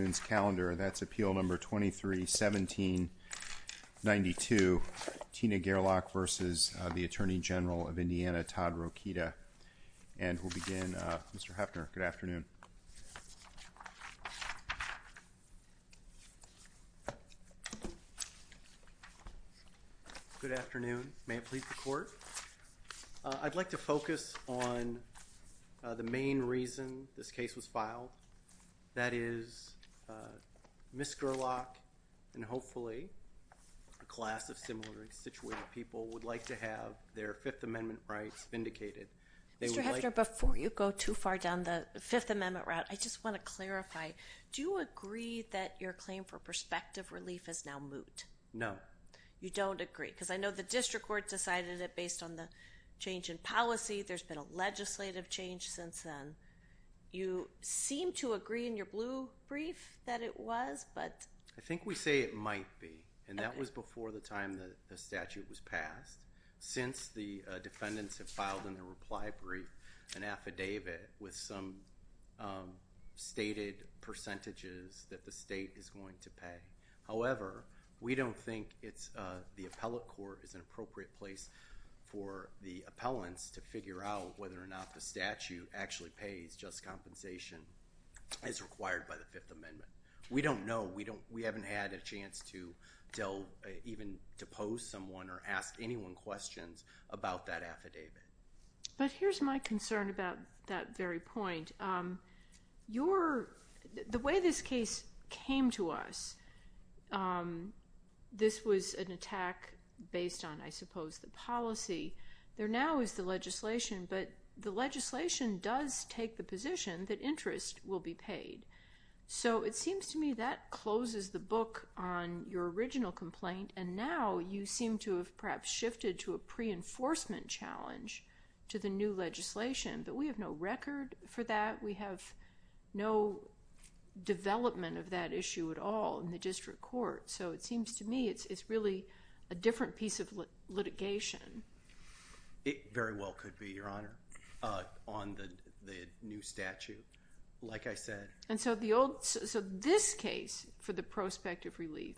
That's appeal number 231792, Tina Gerlach v. the Attorney General of Indiana, Todd Rokita. And we'll begin, Mr. Heffner, good afternoon. Good afternoon. May it please the Court. I'd like to focus on the main reason this case was filed. That is, Ms. Gerlach and hopefully a class of similarly situated people would like to have their Fifth Amendment rights vindicated. Mr. Heffner, before you go too far down the Fifth Amendment route, I just want to clarify. Do you agree that your claim for prospective relief is now moot? No. You don't agree, because I know the district court decided it based on the change in policy. There's been a legislative change since then. You seem to agree in your blue brief that it was, but— I think we say it might be, and that was before the time the statute was passed, since the defendants have filed in their reply brief an affidavit with some stated percentages that the state is going to pay. However, we don't think the appellate court is an appropriate place for the appellants to figure out whether or not the statute actually pays just compensation as required by the Fifth Amendment. We don't know. We haven't had a chance to even to pose someone or ask anyone questions about that affidavit. But here's my concern about that very point. The way this case came to us, this was an attack based on, I suppose, the policy. There now is the legislation, but the legislation does take the position that interest will be paid. So it seems to me that closes the book on your original complaint, and now you seem to have perhaps shifted to a pre-enforcement challenge to the new legislation. But we have no record for that. We have no development of that issue at all in the district court. So it seems to me it's really a different piece of litigation. It very well could be, Your Honor, on the new statute, like I said. And so this case for the prospect of relief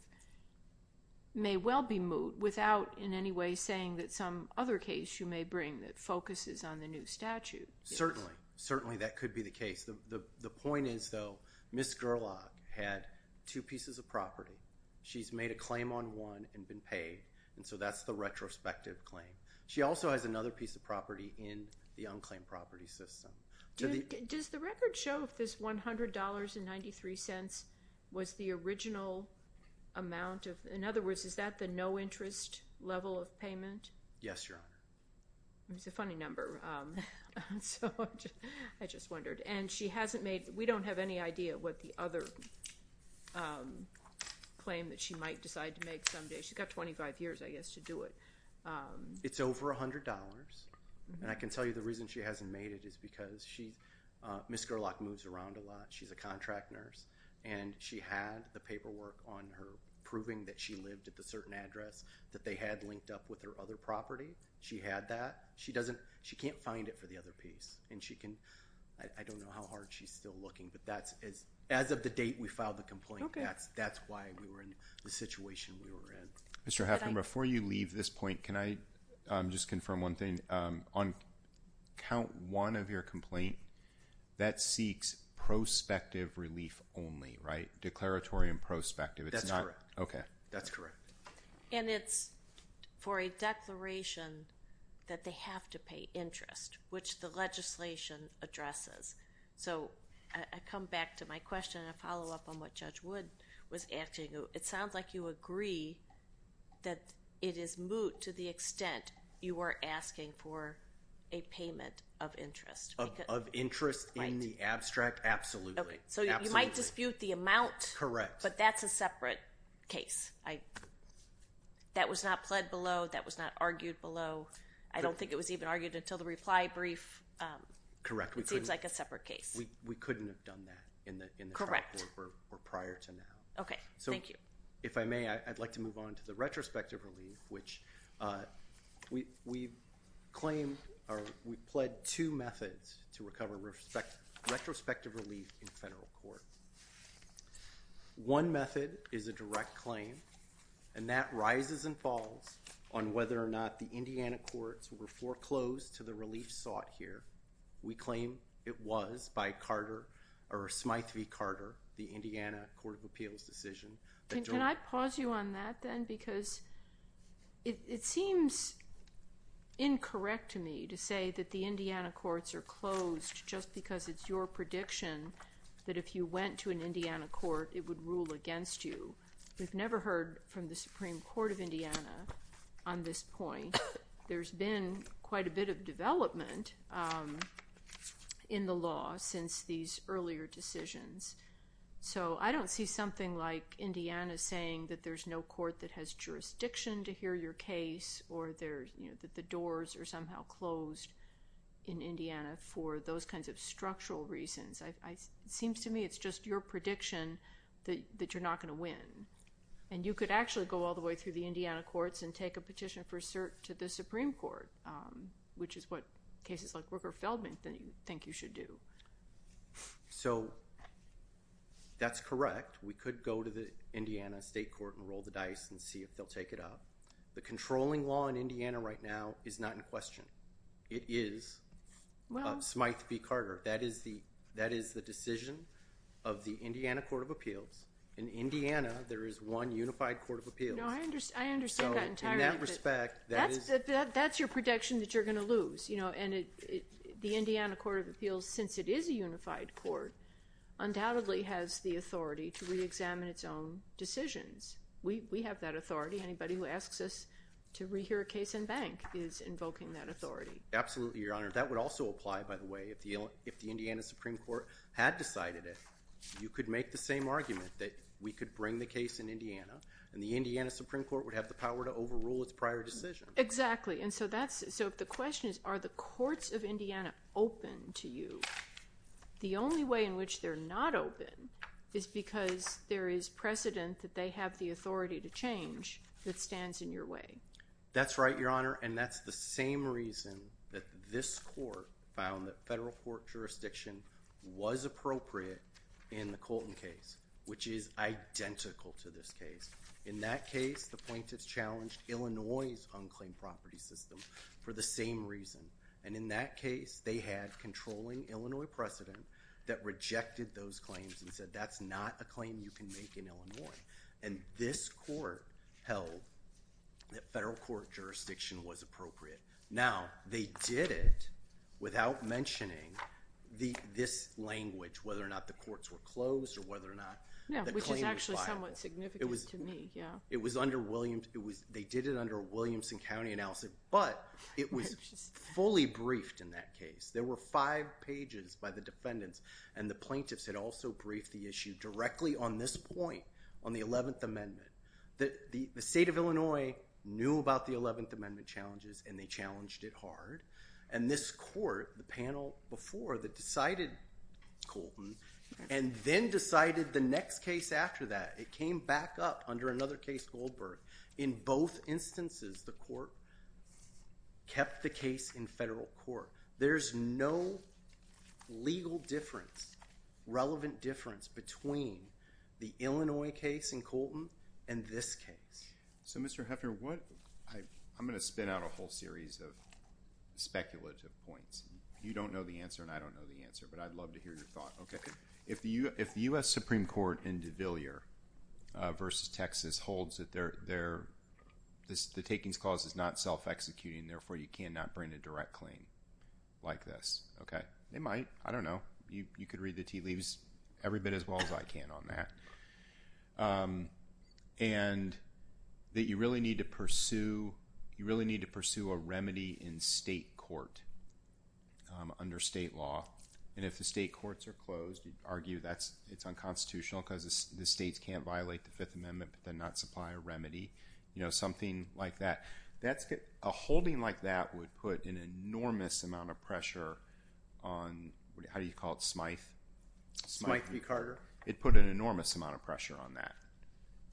may well be moved without in any way saying that some other case you may bring that focuses on the new statute. Certainly. Certainly that could be the case. The point is, though, Ms. Gerlach had two pieces of property. She's made a claim on one and been paid, and so that's the retrospective claim. She also has another piece of property in the unclaimed property system. Does the record show if this $100.93 was the original amount? In other words, is that the no interest level of payment? Yes, Your Honor. It's a funny number, so I just wondered. And she hasn't made—we don't have any idea what the other claim that she might decide to make someday. She's got 25 years, I guess, to do it. It's over $100, and I can tell you the reason she hasn't made it is because Ms. Gerlach moves around a lot. She's a contract nurse, and she had the paperwork on her proving that she lived at the certain address that they had linked up with her other property. She had that. She can't find it for the other piece, and I don't know how hard she's still looking, but as of the date we filed the complaint, that's why we were in the situation we were in. Mr. Hoffman, before you leave this point, can I just confirm one thing? On count one of your complaint, that seeks prospective relief only, right? Declaratory and prospective. That's correct. Okay. That's correct. And it's for a declaration that they have to pay interest, which the legislation addresses. So I come back to my question and a follow-up on what Judge Wood was asking. It sounds like you agree that it is moot to the extent you are asking for a payment of interest. Of interest in the abstract, absolutely. So you might dispute the amount. Correct. But that's a separate case. That was not pled below. That was not argued below. I don't think it was even argued until the reply brief. Correct. It seems like a separate case. We couldn't have done that in the trial court or prior to now. Okay. Thank you. So if I may, I'd like to move on to the retrospective relief, which we claimed or we pled two methods to recover retrospective relief in federal court. One method is a direct claim, and that rises and falls on whether or not the Indiana courts were foreclosed to the relief sought here. We claim it was by Carter or Smythe v. Carter, the Indiana Court of Appeals decision. Can I pause you on that then? Because it seems incorrect to me to say that the Indiana courts are closed just because it's your prediction that if you went to an Indiana court, it would rule against you. We've never heard from the Supreme Court of Indiana on this point. There's been quite a bit of development in the law since these earlier decisions. So I don't see something like Indiana saying that there's no court that has jurisdiction to hear your case or that the doors are somehow closed in Indiana for those kinds of structural reasons. It seems to me it's just your prediction that you're not going to win. And you could actually go all the way through the Indiana courts and take a petition to the Supreme Court, which is what cases like Rooker-Feldman think you should do. So that's correct. We could go to the Indiana state court and roll the dice and see if they'll take it up. The controlling law in Indiana right now is not in question. It is Smythe v. Carter. That is the decision of the Indiana Court of Appeals. In Indiana, there is one unified court of appeals. No, I understand that entirely. That's your prediction that you're going to lose. And the Indiana Court of Appeals, since it is a unified court, undoubtedly has the authority to reexamine its own decisions. We have that authority. Anybody who asks us to rehear a case in bank is invoking that authority. Absolutely, Your Honor. That would also apply, by the way, if the Indiana Supreme Court had decided it. You could make the same argument that we could bring the case in Indiana. And the Indiana Supreme Court would have the power to overrule its prior decision. Exactly. And so the question is, are the courts of Indiana open to you? The only way in which they're not open is because there is precedent that they have the authority to change that stands in your way. That's right, Your Honor. And that's the same reason that this court found that federal court jurisdiction was appropriate in the Colton case, which is identical to this case. In that case, the plaintiffs challenged Illinois' unclaimed property system for the same reason. And in that case, they had controlling Illinois precedent that rejected those claims and said that's not a claim you can make in Illinois. And this court held that federal court jurisdiction was appropriate. Now, they did it without mentioning this language, whether or not the courts were closed or whether or not the claim was filed. Yeah, which is actually somewhat significant to me, yeah. They did it under a Williamson County analysis, but it was fully briefed in that case. There were five pages by the defendants, and the plaintiffs had also briefed the issue directly on this point on the 11th Amendment. The state of Illinois knew about the 11th Amendment challenges, and they challenged it hard. And this court, the panel before that decided Colton and then decided the next case after that. It came back up under another case, Goldberg. In both instances, the court kept the case in federal court. There's no legal difference, relevant difference between the Illinois case in Colton and this case. So, Mr. Heffner, I'm going to spin out a whole series of speculative points. You don't know the answer and I don't know the answer, but I'd love to hear your thought, okay? If the U.S. Supreme Court in DeVillier versus Texas holds that the takings clause is not self-executing, therefore you cannot bring a direct claim like this, okay, they might. I don't know. You could read the tea leaves every bit as well as I can on that. And that you really need to pursue a remedy in state court under state law. And if the state courts are closed, you'd argue it's unconstitutional because the states can't violate the Fifth Amendment, but then not supply a remedy, something like that. A holding like that would put an enormous amount of pressure on, how do you call it, Smythe? Smythe v. Carter. It put an enormous amount of pressure on that,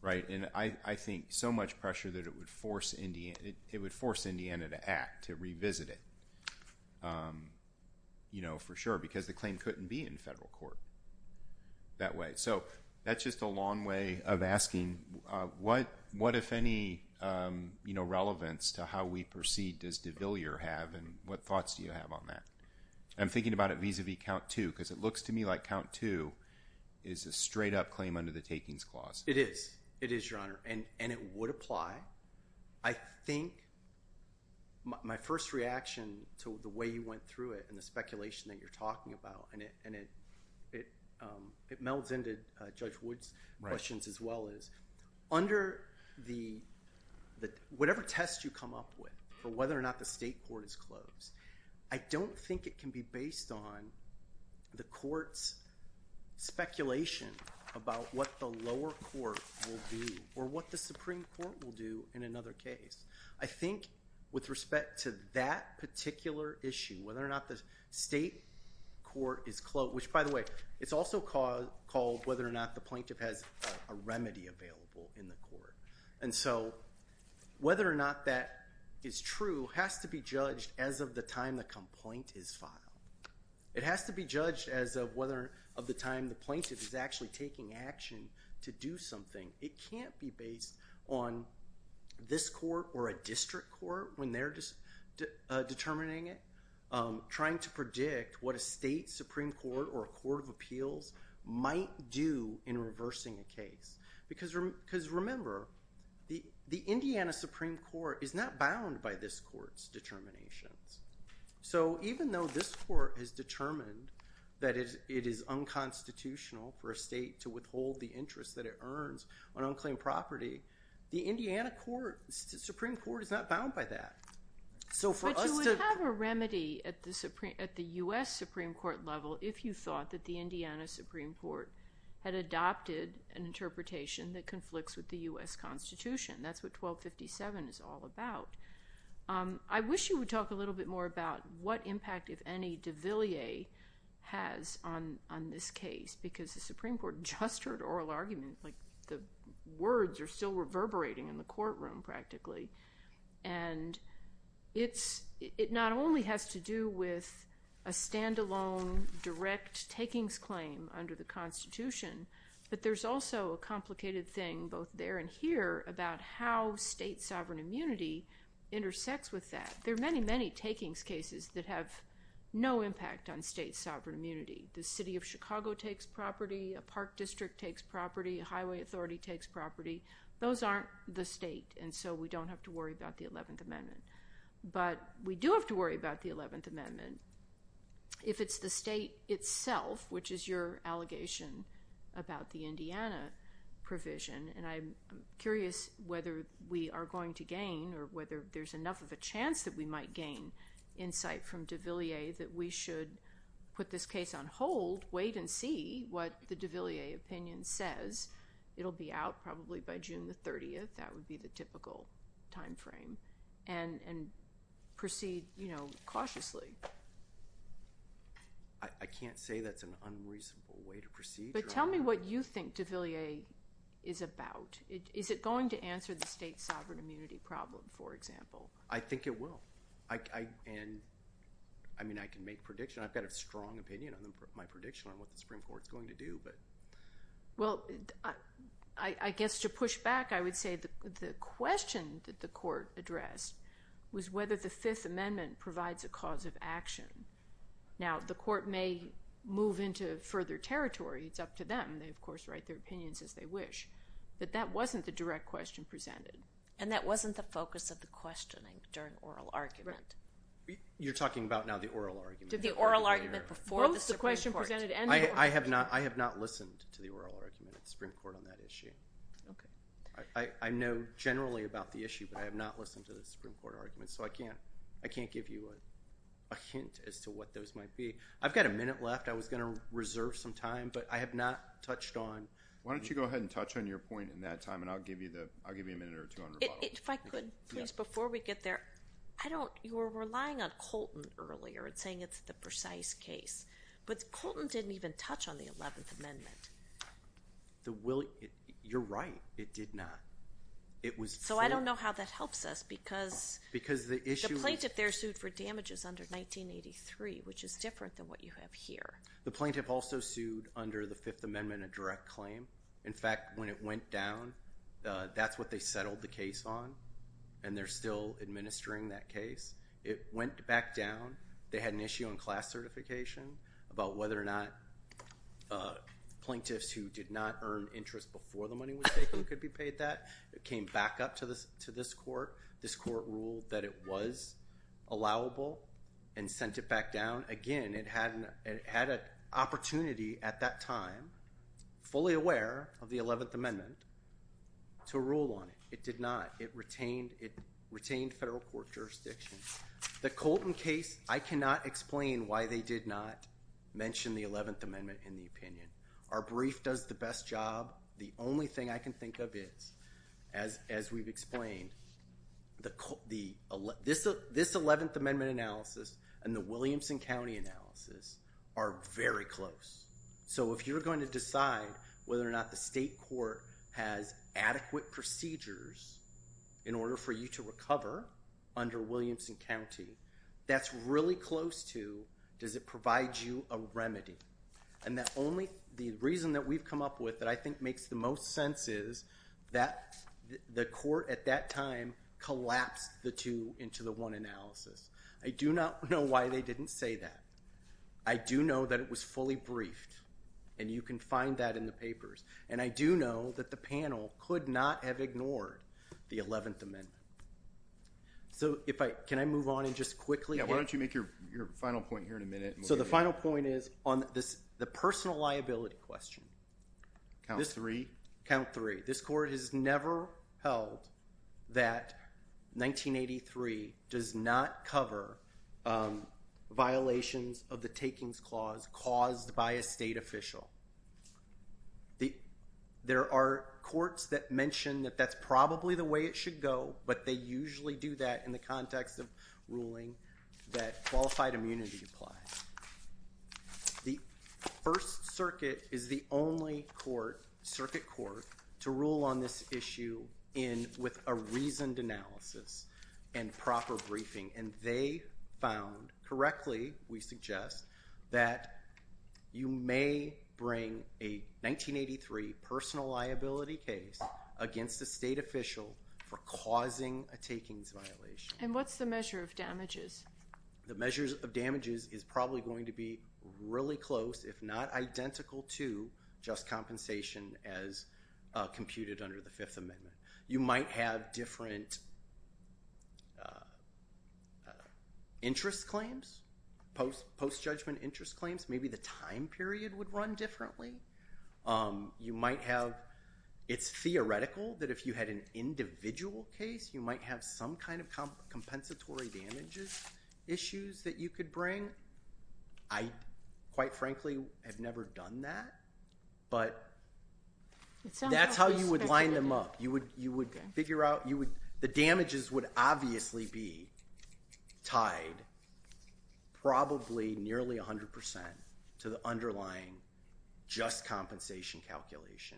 right? And I think so much pressure that it would force Indiana to act, to revisit it. You know, for sure, because the claim couldn't be in federal court that way. So that's just a long way of asking what, if any, relevance to how we proceed does DeVillier have and what thoughts do you have on that? I'm thinking about it vis-à-vis count two because it looks to me like count two is a straight-up claim under the takings clause. It is. It is, Your Honor. And it would apply. I think my first reaction to the way you went through it and the speculation that you're talking about, and it melds into Judge Wood's questions as well, is under whatever test you come up with or whether or not the state court is closed, I don't think it can be based on the court's speculation about what the lower court will do or what the Supreme Court will do in another case. I think with respect to that particular issue, whether or not the state court is closed, which, by the way, it's also called whether or not the plaintiff has a remedy available in the court. And so whether or not that is true has to be judged as of the time the complaint is filed. It has to be judged as of whether of the time the plaintiff is actually taking action to do something. It can't be based on this court or a district court when they're determining it, trying to predict what a state Supreme Court or a court of appeals might do in reversing a case. Because, remember, the Indiana Supreme Court is not bound by this court's determinations. So even though this court has determined that it is unconstitutional for a state to withhold the interest that it earns on unclaimed property, the Indiana Supreme Court is not bound by that. But you would have a remedy at the U.S. Supreme Court level if you thought that the Indiana Supreme Court had adopted an interpretation that conflicts with the U.S. Constitution. That's what 1257 is all about. I wish you would talk a little bit more about what impact, if any, the words are still reverberating in the courtroom practically. And it not only has to do with a stand-alone direct takings claim under the Constitution, but there's also a complicated thing both there and here about how state sovereign immunity intersects with that. There are many, many takings cases that have no impact on state sovereign immunity. The city of Chicago takes property, a park district takes property, a highway authority takes property. Those aren't the state, and so we don't have to worry about the 11th Amendment. But we do have to worry about the 11th Amendment if it's the state itself, which is your allegation about the Indiana provision. And I'm curious whether we are going to gain or whether there's enough of a chance that we might gain insight from de Villiers that we should put this case on hold, wait and see what the de Villiers opinion says. It'll be out probably by June the 30th. That would be the typical time frame, and proceed cautiously. I can't say that's an unreasonable way to proceed. But tell me what you think de Villiers is about. Is it going to answer the state sovereign immunity problem, for example? I think it will. And, I mean, I can make predictions. I've got a strong opinion on my prediction on what the Supreme Court is going to do. Well, I guess to push back, I would say the question that the court addressed was whether the Fifth Amendment provides a cause of action. Now, the court may move into further territory. It's up to them. They, of course, write their opinions as they wish. But that wasn't the direct question presented. And that wasn't the focus of the questioning during oral argument. You're talking about now the oral argument. Did the oral argument before the Supreme Court. Both the question presented and the oral argument. I have not listened to the oral argument at the Supreme Court on that issue. Okay. I know generally about the issue, but I have not listened to the Supreme Court argument. So I can't give you a hint as to what those might be. I've got a minute left. I was going to reserve some time, but I have not touched on. Why don't you go ahead and touch on your point in that time, and I'll give you a minute or two on rebuttal. If I could, please, before we get there. You were relying on Colton earlier and saying it's the precise case. But Colton didn't even touch on the 11th Amendment. You're right. It did not. So I don't know how that helps us because the plaintiff there sued for damages under 1983, which is different than what you have here. The plaintiff also sued under the Fifth Amendment a direct claim. In fact, when it went down, that's what they settled the case on, and they're still administering that case. It went back down. They had an issue on class certification about whether or not plaintiffs who did not earn interest before the money was taken could be paid that. It came back up to this court. This court ruled that it was allowable and sent it back down. Again, it had an opportunity at that time, fully aware of the 11th Amendment, to rule on it. It did not. It retained federal court jurisdiction. The Colton case, I cannot explain why they did not mention the 11th Amendment in the opinion. Our brief does the best job. The only thing I can think of is, as we've explained, this 11th Amendment analysis and the Williamson County analysis are very close. So if you're going to decide whether or not the state court has adequate procedures in order for you to recover under Williamson County, that's really close to does it provide you a remedy. The reason that we've come up with that I think makes the most sense is that the court at that time collapsed the two into the one analysis. I do not know why they didn't say that. I do know that it was fully briefed, and you can find that in the papers. And I do know that the panel could not have ignored the 11th Amendment. So can I move on and just quickly? Why don't you make your final point here in a minute? So the final point is on the personal liability question. Count three. Count three. This court has never held that 1983 does not cover violations of the takings clause caused by a state official. There are courts that mention that that's probably the way it should go, but they usually do that in the context of ruling that qualified immunity applies. The First Circuit is the only court, circuit court, to rule on this issue with a reasoned analysis and proper briefing. And they found correctly, we suggest, that you may bring a 1983 personal liability case against a state official for causing a takings violation. And what's the measure of damages? The measure of damages is probably going to be really close, if not identical to, just compensation as computed under the Fifth Amendment. You might have different interest claims, post-judgment interest claims. Maybe the time period would run differently. You might have, it's theoretical that if you had an individual case, you might have some kind of compensatory damages issues that you could bring. I, quite frankly, have never done that. But that's how you would line them up. You would figure out, the damages would obviously be tied probably nearly 100% to the underlying just compensation calculation.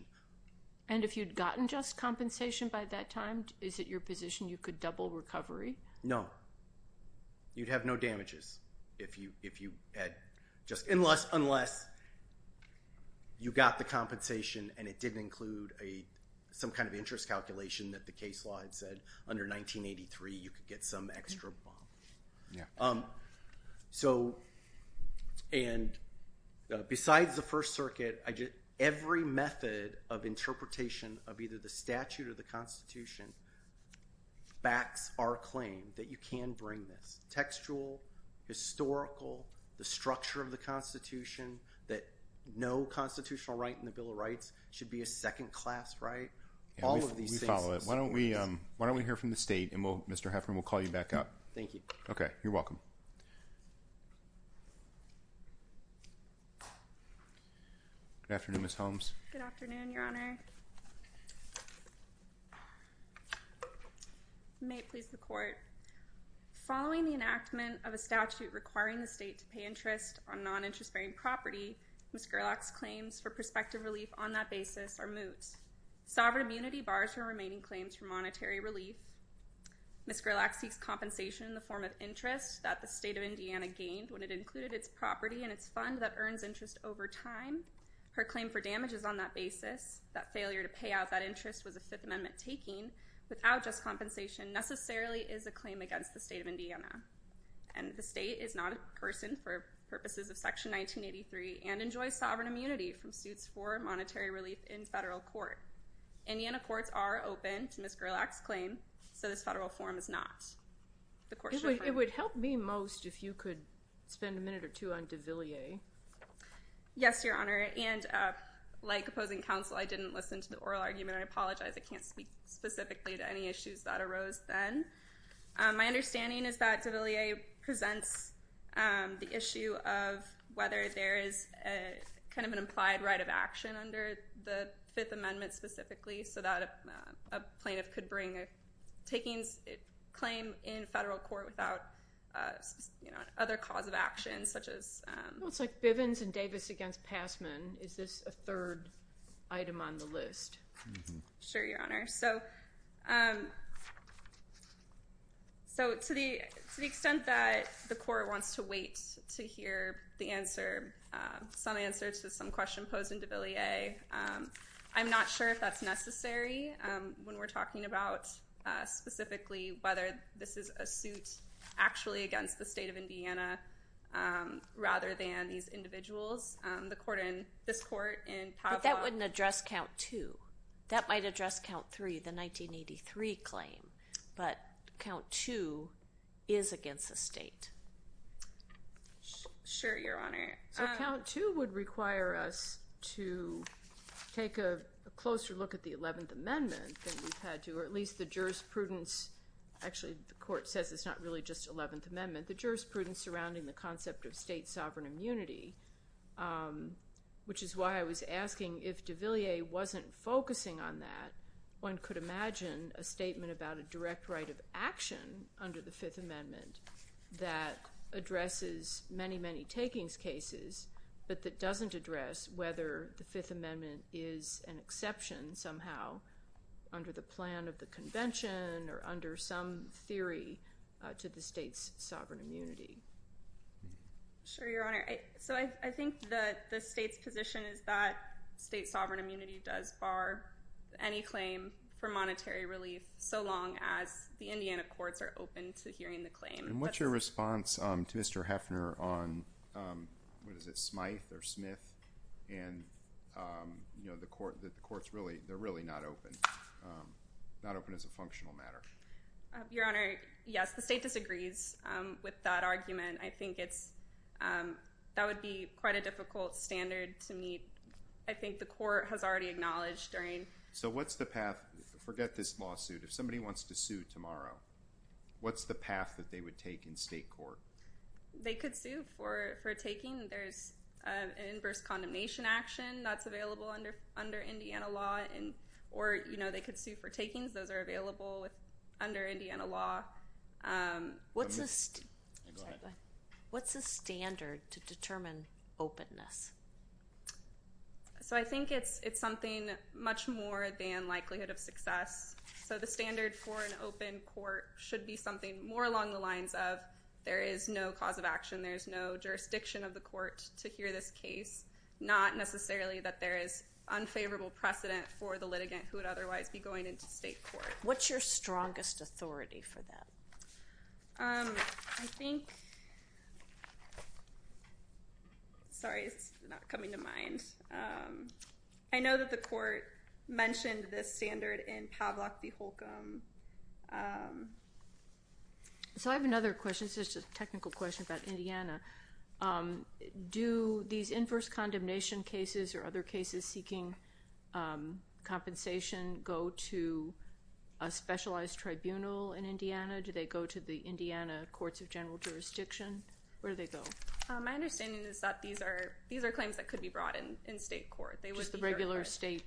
And if you'd gotten just compensation by that time, is it your position you could double recovery? No. You'd have no damages if you had just, unless you got the compensation and it didn't include some kind of interest calculation that the case law had said, under 1983 you could get some extra bomb. So, and besides the First Circuit, every method of interpretation of either the statute or the Constitution backs our claim that you can bring this. Textual, historical, the structure of the Constitution, that no constitutional right in the Bill of Rights should be a second class right. All of these things. We follow it. Why don't we hear from the state and Mr. Heffern, we'll call you back up. Thank you. Okay, you're welcome. Good afternoon, Ms. Holmes. Good afternoon, Your Honor. May it please the Court. Following the enactment of a statute requiring the state to pay interest on non-interest bearing property, Ms. Gerlach's claims for prospective relief on that basis are moot. Sovereign immunity bars her remaining claims for monetary relief. Ms. Gerlach seeks compensation in the form of interest that the state of Indiana gained when it included its property and its fund that earns interest over time. Her claim for damages on that basis, that failure to pay out that interest was a Fifth Amendment taking, without just compensation, necessarily is a claim against the state of Indiana. And the state is not a person for purposes of Section 1983 and enjoys sovereign immunity from suits for monetary relief in federal court. Indiana courts are open to Ms. Gerlach's claim, so this federal form is not. It would help me most if you could spend a minute or two on DeVilliers. Yes, Your Honor. And like opposing counsel, I didn't listen to the oral argument. I apologize. I can't speak specifically to any issues that arose then. My understanding is that DeVilliers presents the issue of whether there is kind of an implied right of action under the Fifth Amendment specifically so that a plaintiff could bring a taking claim in federal court without other cause of action, such as- Well, it's like Bivens and Davis against Passman. Is this a third item on the list? Sure, Your Honor. So to the extent that the court wants to wait to hear the answer, some answer to some question posed in DeVilliers, I'm not sure if that's necessary when we're talking about specifically whether this is a suit actually against the state of Indiana rather than these individuals. But that wouldn't address Count 2. That might address Count 3, the 1983 claim. But Count 2 is against the state. Sure, Your Honor. So Count 2 would require us to take a closer look at the Eleventh Amendment than we've had to, or at least the jurisprudence. Actually, the court says it's not really just Eleventh Amendment. The jurisprudence surrounding the concept of state sovereign immunity, which is why I was asking if DeVilliers wasn't focusing on that, one could imagine a statement about a direct right of action under the Fifth Amendment that addresses many, many takings cases, but that doesn't address whether the Fifth Amendment is an exception somehow under the plan of the convention or under some theory to the state's sovereign immunity. Sure, Your Honor. So I think that the state's position is that state sovereign immunity does bar any claim for monetary relief so long as the Indiana courts are open to hearing the claim. And what's your response to Mr. Heffner on, what is it, Smythe or Smith? And, you know, the courts really, they're really not open, not open as a functional matter. Your Honor, yes, the state disagrees with that argument. I think it's, that would be quite a difficult standard to meet. I think the court has already acknowledged during. So what's the path? Forget this lawsuit. If somebody wants to sue tomorrow, what's the path that they would take in state court? They could sue for a taking. There's an inverse condemnation action that's available under Indiana law, or, you know, they could sue for takings. Those are available under Indiana law. What's the standard to determine openness? So I think it's something much more than likelihood of success. So the standard for an open court should be something more along the lines of there is no cause of action, there's no jurisdiction of the court to hear this case, not necessarily that there is unfavorable precedent for the litigant who would otherwise be going into state court. What's your strongest authority for that? I think. Sorry, it's not coming to mind. I know that the court mentioned this standard in Pavlak v. Holcomb. So I have another question. It's just a technical question about Indiana. Do these inverse condemnation cases or other cases seeking compensation go to a specialized tribunal in Indiana? Do they go to the Indiana Courts of General Jurisdiction? Where do they go? My understanding is that these are claims that could be brought in state court. Just the regular state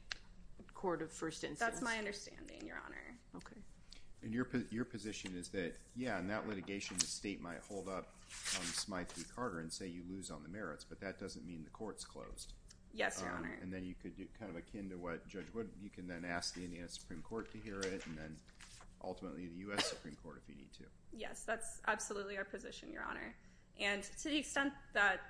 court of first instance? That's my understanding, Your Honor. Okay. And your position is that, yeah, in that litigation the state might hold up on Smyth v. Carter and say you lose on the merits, but that doesn't mean the court's closed. Yes, Your Honor. And then you could do kind of akin to what Judge Wood, you can then ask the Indiana Supreme Court to hear it, and then ultimately the U.S. Supreme Court if you need to. Yes, that's absolutely our position, Your Honor. And to the extent that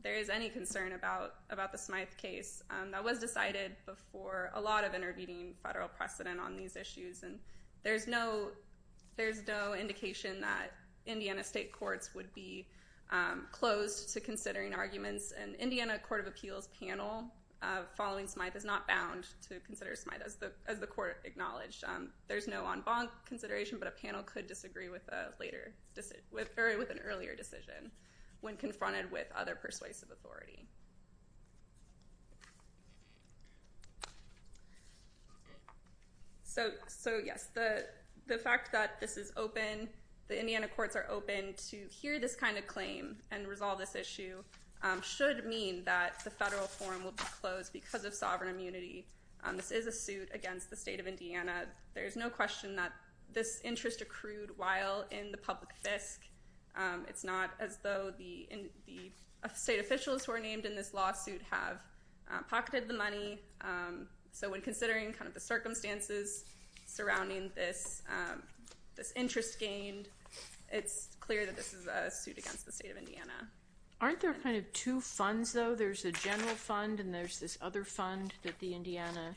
there is any concern about the Smyth case, that was decided before a lot of intervening federal precedent on these issues, and there's no indication that Indiana state courts would be closed to considering arguments. An Indiana Court of Appeals panel following Smyth is not bound to consider Smyth, as the court acknowledged. There's no en banc consideration, but a panel could disagree with an earlier decision when confronted with other persuasive authority. So, yes, the fact that this is open, the Indiana courts are open to hear this kind of claim and resolve this issue should mean that the federal forum will be closed because of sovereign immunity. This is a suit against the state of Indiana. There's no question that this interest accrued while in the public fisc. It's not as though the state officials who are named in this lawsuit have pocketed the money. So when considering kind of the circumstances surrounding this interest gained, it's clear that this is a suit against the state of Indiana. Aren't there kind of two funds, though? There's a general fund and there's this other fund that the Indiana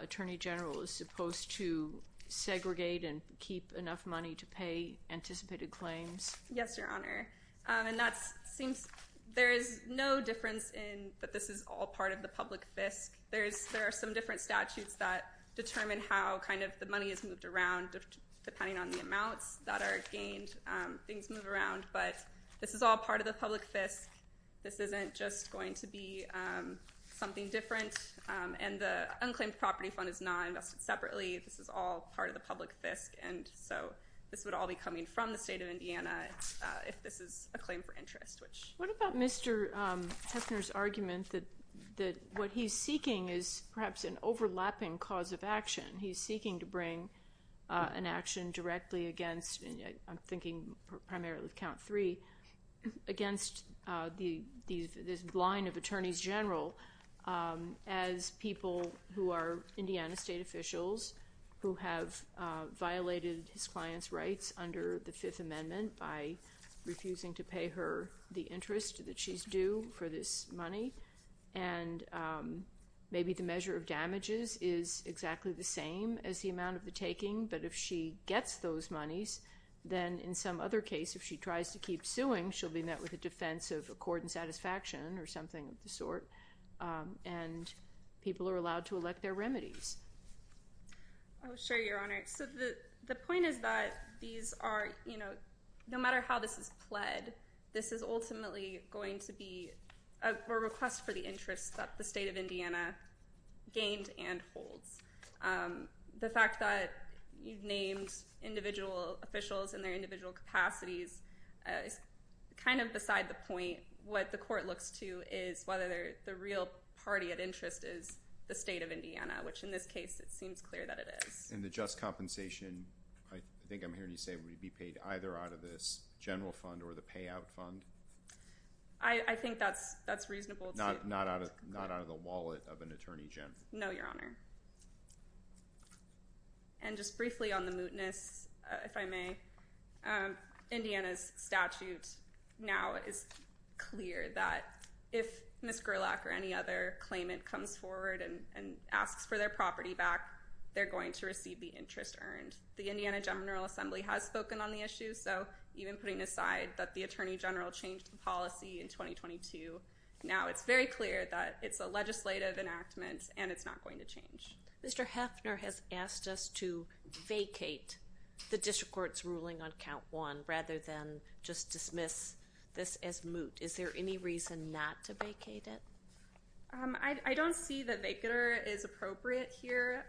attorney general is supposed to segregate and keep enough money to pay anticipated claims? Yes, Your Honor, and that seems there is no difference in that this is all part of the public fisc. There are some different statutes that determine how kind of the money is moved around depending on the amounts that are gained. Things move around, but this is all part of the public fisc. This isn't just going to be something different, and the unclaimed property fund is not invested separately. This is all part of the public fisc, and so this would all be coming from the state of Indiana if this is a claim for interest. What about Mr. Hefner's argument that what he's seeking is perhaps an overlapping cause of action? He's seeking to bring an action directly against, I'm thinking primarily of count three, against this line of attorneys general as people who are Indiana state officials who have violated his client's rights under the Fifth Amendment by refusing to pay her the interest that she's due for this money, and maybe the measure of damages is exactly the same as the amount of the taking, but if she gets those monies, then in some other case, if she tries to keep suing, she'll be met with a defense of accord and satisfaction or something of the sort, and people are allowed to elect their remedies. Oh, sure, Your Honor. So the point is that these are, you know, no matter how this is pled, this is ultimately going to be a request for the interest that the state of Indiana gained and holds. The fact that you've named individual officials and their individual capacities is kind of beside the point. What the court looks to is whether the real party of interest is the state of Indiana, which in this case it seems clear that it is. And the just compensation, I think I'm hearing you say, would be paid either out of this general fund or the payout fund? I think that's reasonable. Not out of the wallet of an attorney, Jim? No, Your Honor. And just briefly on the mootness, if I may, Indiana's statute now is clear that if Ms. Gerlach or any other claimant comes forward and asks for their property back, they're going to receive the interest earned. The Indiana General Assembly has spoken on the issue, so even putting aside that the Attorney General changed the policy in 2022, now it's very clear that it's a legislative enactment and it's not going to change. Mr. Heffner has asked us to vacate the district court's ruling on count one rather than just dismiss this as moot. Is there any reason not to vacate it? I don't see that vacater is appropriate here.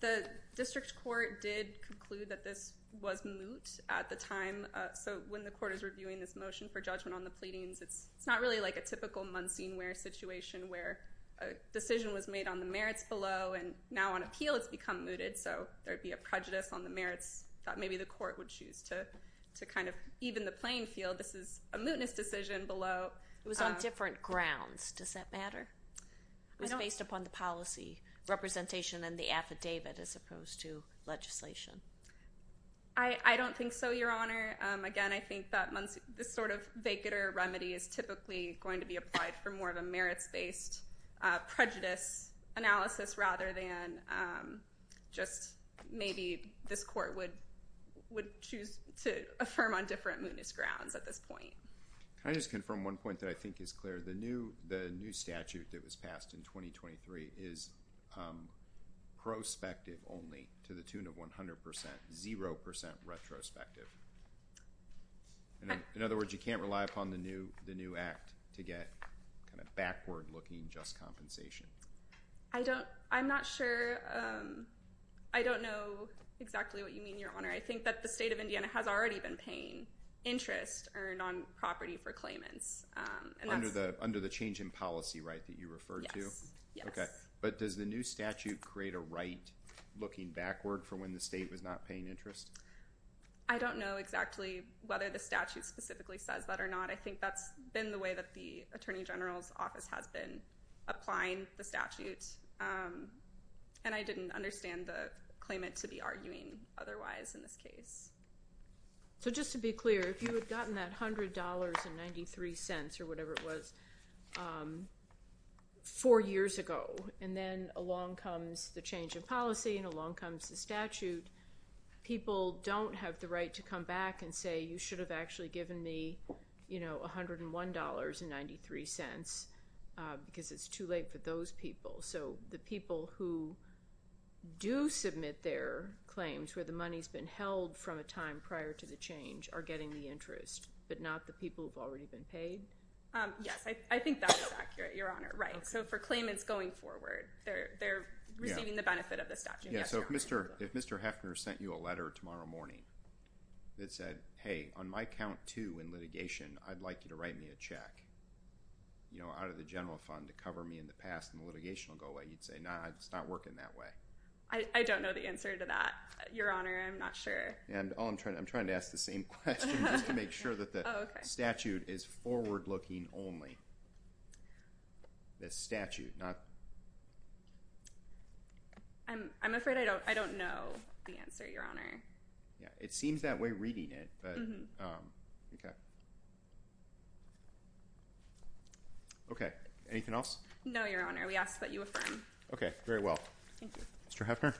The district court did conclude that this was moot at the time, so when the court is reviewing this motion for judgment on the pleadings, it's not really like a typical Munseenware situation where a decision was made on the merits below, and now on appeal it's become mooted, so there would be a prejudice on the merits that maybe the court would choose to kind of even the playing field. This is a mootness decision below. It was on different grounds. Does that matter? It was based upon the policy representation and the affidavit as opposed to legislation. I don't think so, Your Honor. Again, I think that this sort of vacater remedy is typically going to be applied for more of a merits-based prejudice analysis rather than just maybe this court would choose to affirm on different mootness grounds at this point. Can I just confirm one point that I think is clear? The new statute that was passed in 2023 is prospective only to the tune of 100%, 0% retrospective. In other words, you can't rely upon the new act to get kind of backward-looking just compensation. I'm not sure. I don't know exactly what you mean, Your Honor. I think that the state of Indiana has already been paying interest earned on property for claimants. Under the change in policy right that you referred to? Yes. But does the new statute create a right looking backward for when the state was not paying interest? I don't know exactly whether the statute specifically says that or not. I think that's been the way that the Attorney General's Office has been applying the statute, and I didn't understand the claimant to be arguing otherwise in this case. So just to be clear, if you had gotten that $100.93 or whatever it was four years ago, and then along comes the change in policy and along comes the statute, people don't have the right to come back and say, you should have actually given me $101.93 because it's too late for those people. So the people who do submit their claims where the money has been held from a time prior to the change are getting the interest, but not the people who have already been paid? Yes. I think that is accurate, Your Honor. So for claimants going forward, they're receiving the benefit of the statute. So if Mr. Heffner sent you a letter tomorrow morning that said, hey, on my count two in litigation, I'd like you to write me a check out of the general fund to cover me in the past and the litigation will go away, you'd say, no, it's not working that way. I don't know the answer to that, Your Honor. I'm not sure. I'm trying to ask the same question just to make sure that the statute is forward looking only. The statute, not... I'm afraid I don't know the answer, Your Honor. It seems that way reading it, but... Okay. Anything else? No, Your Honor. We ask that you affirm. Okay. Very well. Thank you. Mr. Heffner?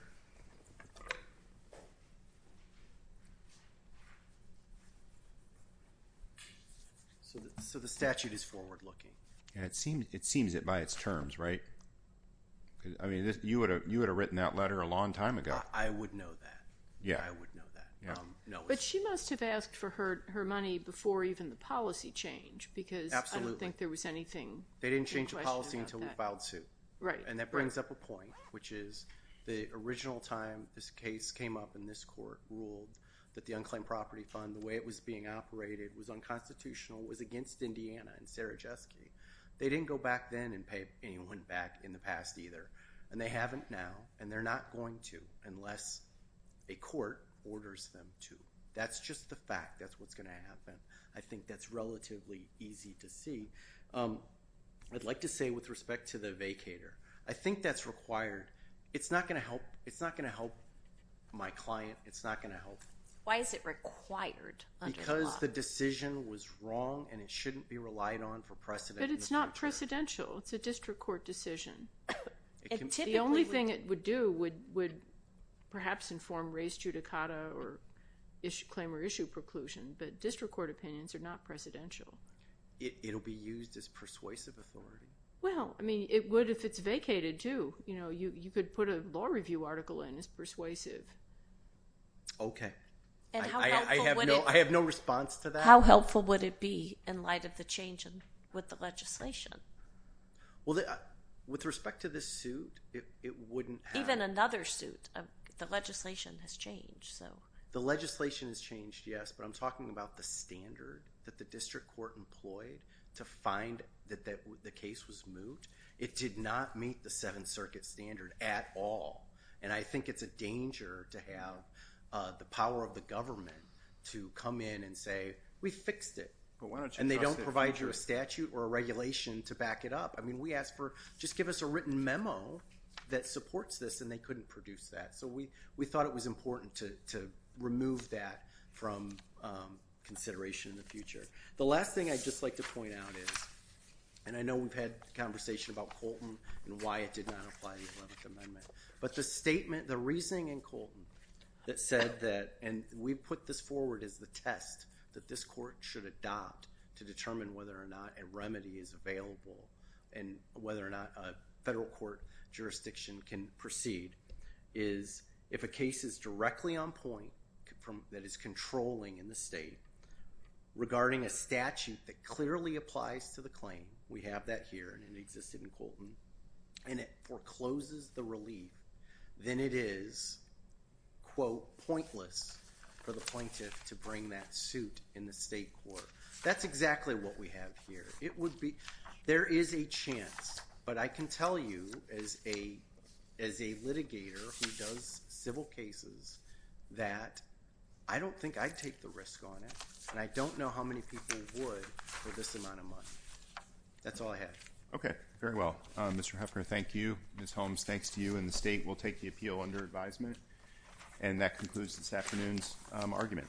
So the statute is forward looking. It seems it by its terms, right? I mean, you would have written that letter a long time ago. I would know that. Yeah. I would know that. But she must have asked for her money before even the policy change because I don't think there was anything... They didn't change the policy until we filed suit. Right. And that brings up a point, which is the original statute, the original time this case came up in this court ruled that the unclaimed property fund, the way it was being operated was unconstitutional, was against Indiana and Sarajewski. They didn't go back then and pay anyone back in the past either, and they haven't now, and they're not going to unless a court orders them to. That's just the fact. That's what's going to happen. I think that's relatively easy to see. I'd like to say with respect to the vacator, I think that's required. It's not going to help my client. It's not going to help. Why is it required under the law? Because the decision was wrong and it shouldn't be relied on for precedent. But it's not precedential. It's a district court decision. The only thing it would do would perhaps inform race judicata or claim or issue preclusion, but district court opinions are not precedential. It will be used as persuasive authority. Well, I mean, it would if it's vacated too. You could put a law review article in as persuasive. Okay. I have no response to that. How helpful would it be in light of the change with the legislation? Well, with respect to this suit, it wouldn't have. Even another suit. The legislation has changed. The legislation has changed, yes, but I'm talking about the standard that the district court employed to find that the case was moot. It did not meet the Seventh Circuit standard at all, and I think it's a danger to have the power of the government to come in and say, we fixed it, and they don't provide you a statute or a regulation to back it up. I mean, we asked for just give us a written memo that supports this, and they couldn't produce that. So we thought it was important to remove that from consideration in the future. The last thing I'd just like to point out is, and I know we've had a conversation about Colton and why it did not apply to the 11th Amendment, but the statement, the reasoning in Colton that said that, and we put this forward as the test that this court should adopt to determine whether or not a remedy is available and whether or not a federal court jurisdiction can proceed, is if a case is directly on point that is controlling in the state, regarding a statute that clearly applies to the claim, we have that here, and it existed in Colton, and it forecloses the relief, then it is, quote, pointless for the plaintiff to bring that suit in the state court. That's exactly what we have here. There is a chance, but I can tell you, as a litigator who does civil cases, that I don't think I'd take the risk on it, and I don't know how many people would for this amount of money. That's all I have. Okay. Very well. Mr. Huffner, thank you. Ms. Holmes, thanks to you, and the state will take the appeal under advisement. And that concludes this afternoon's argument.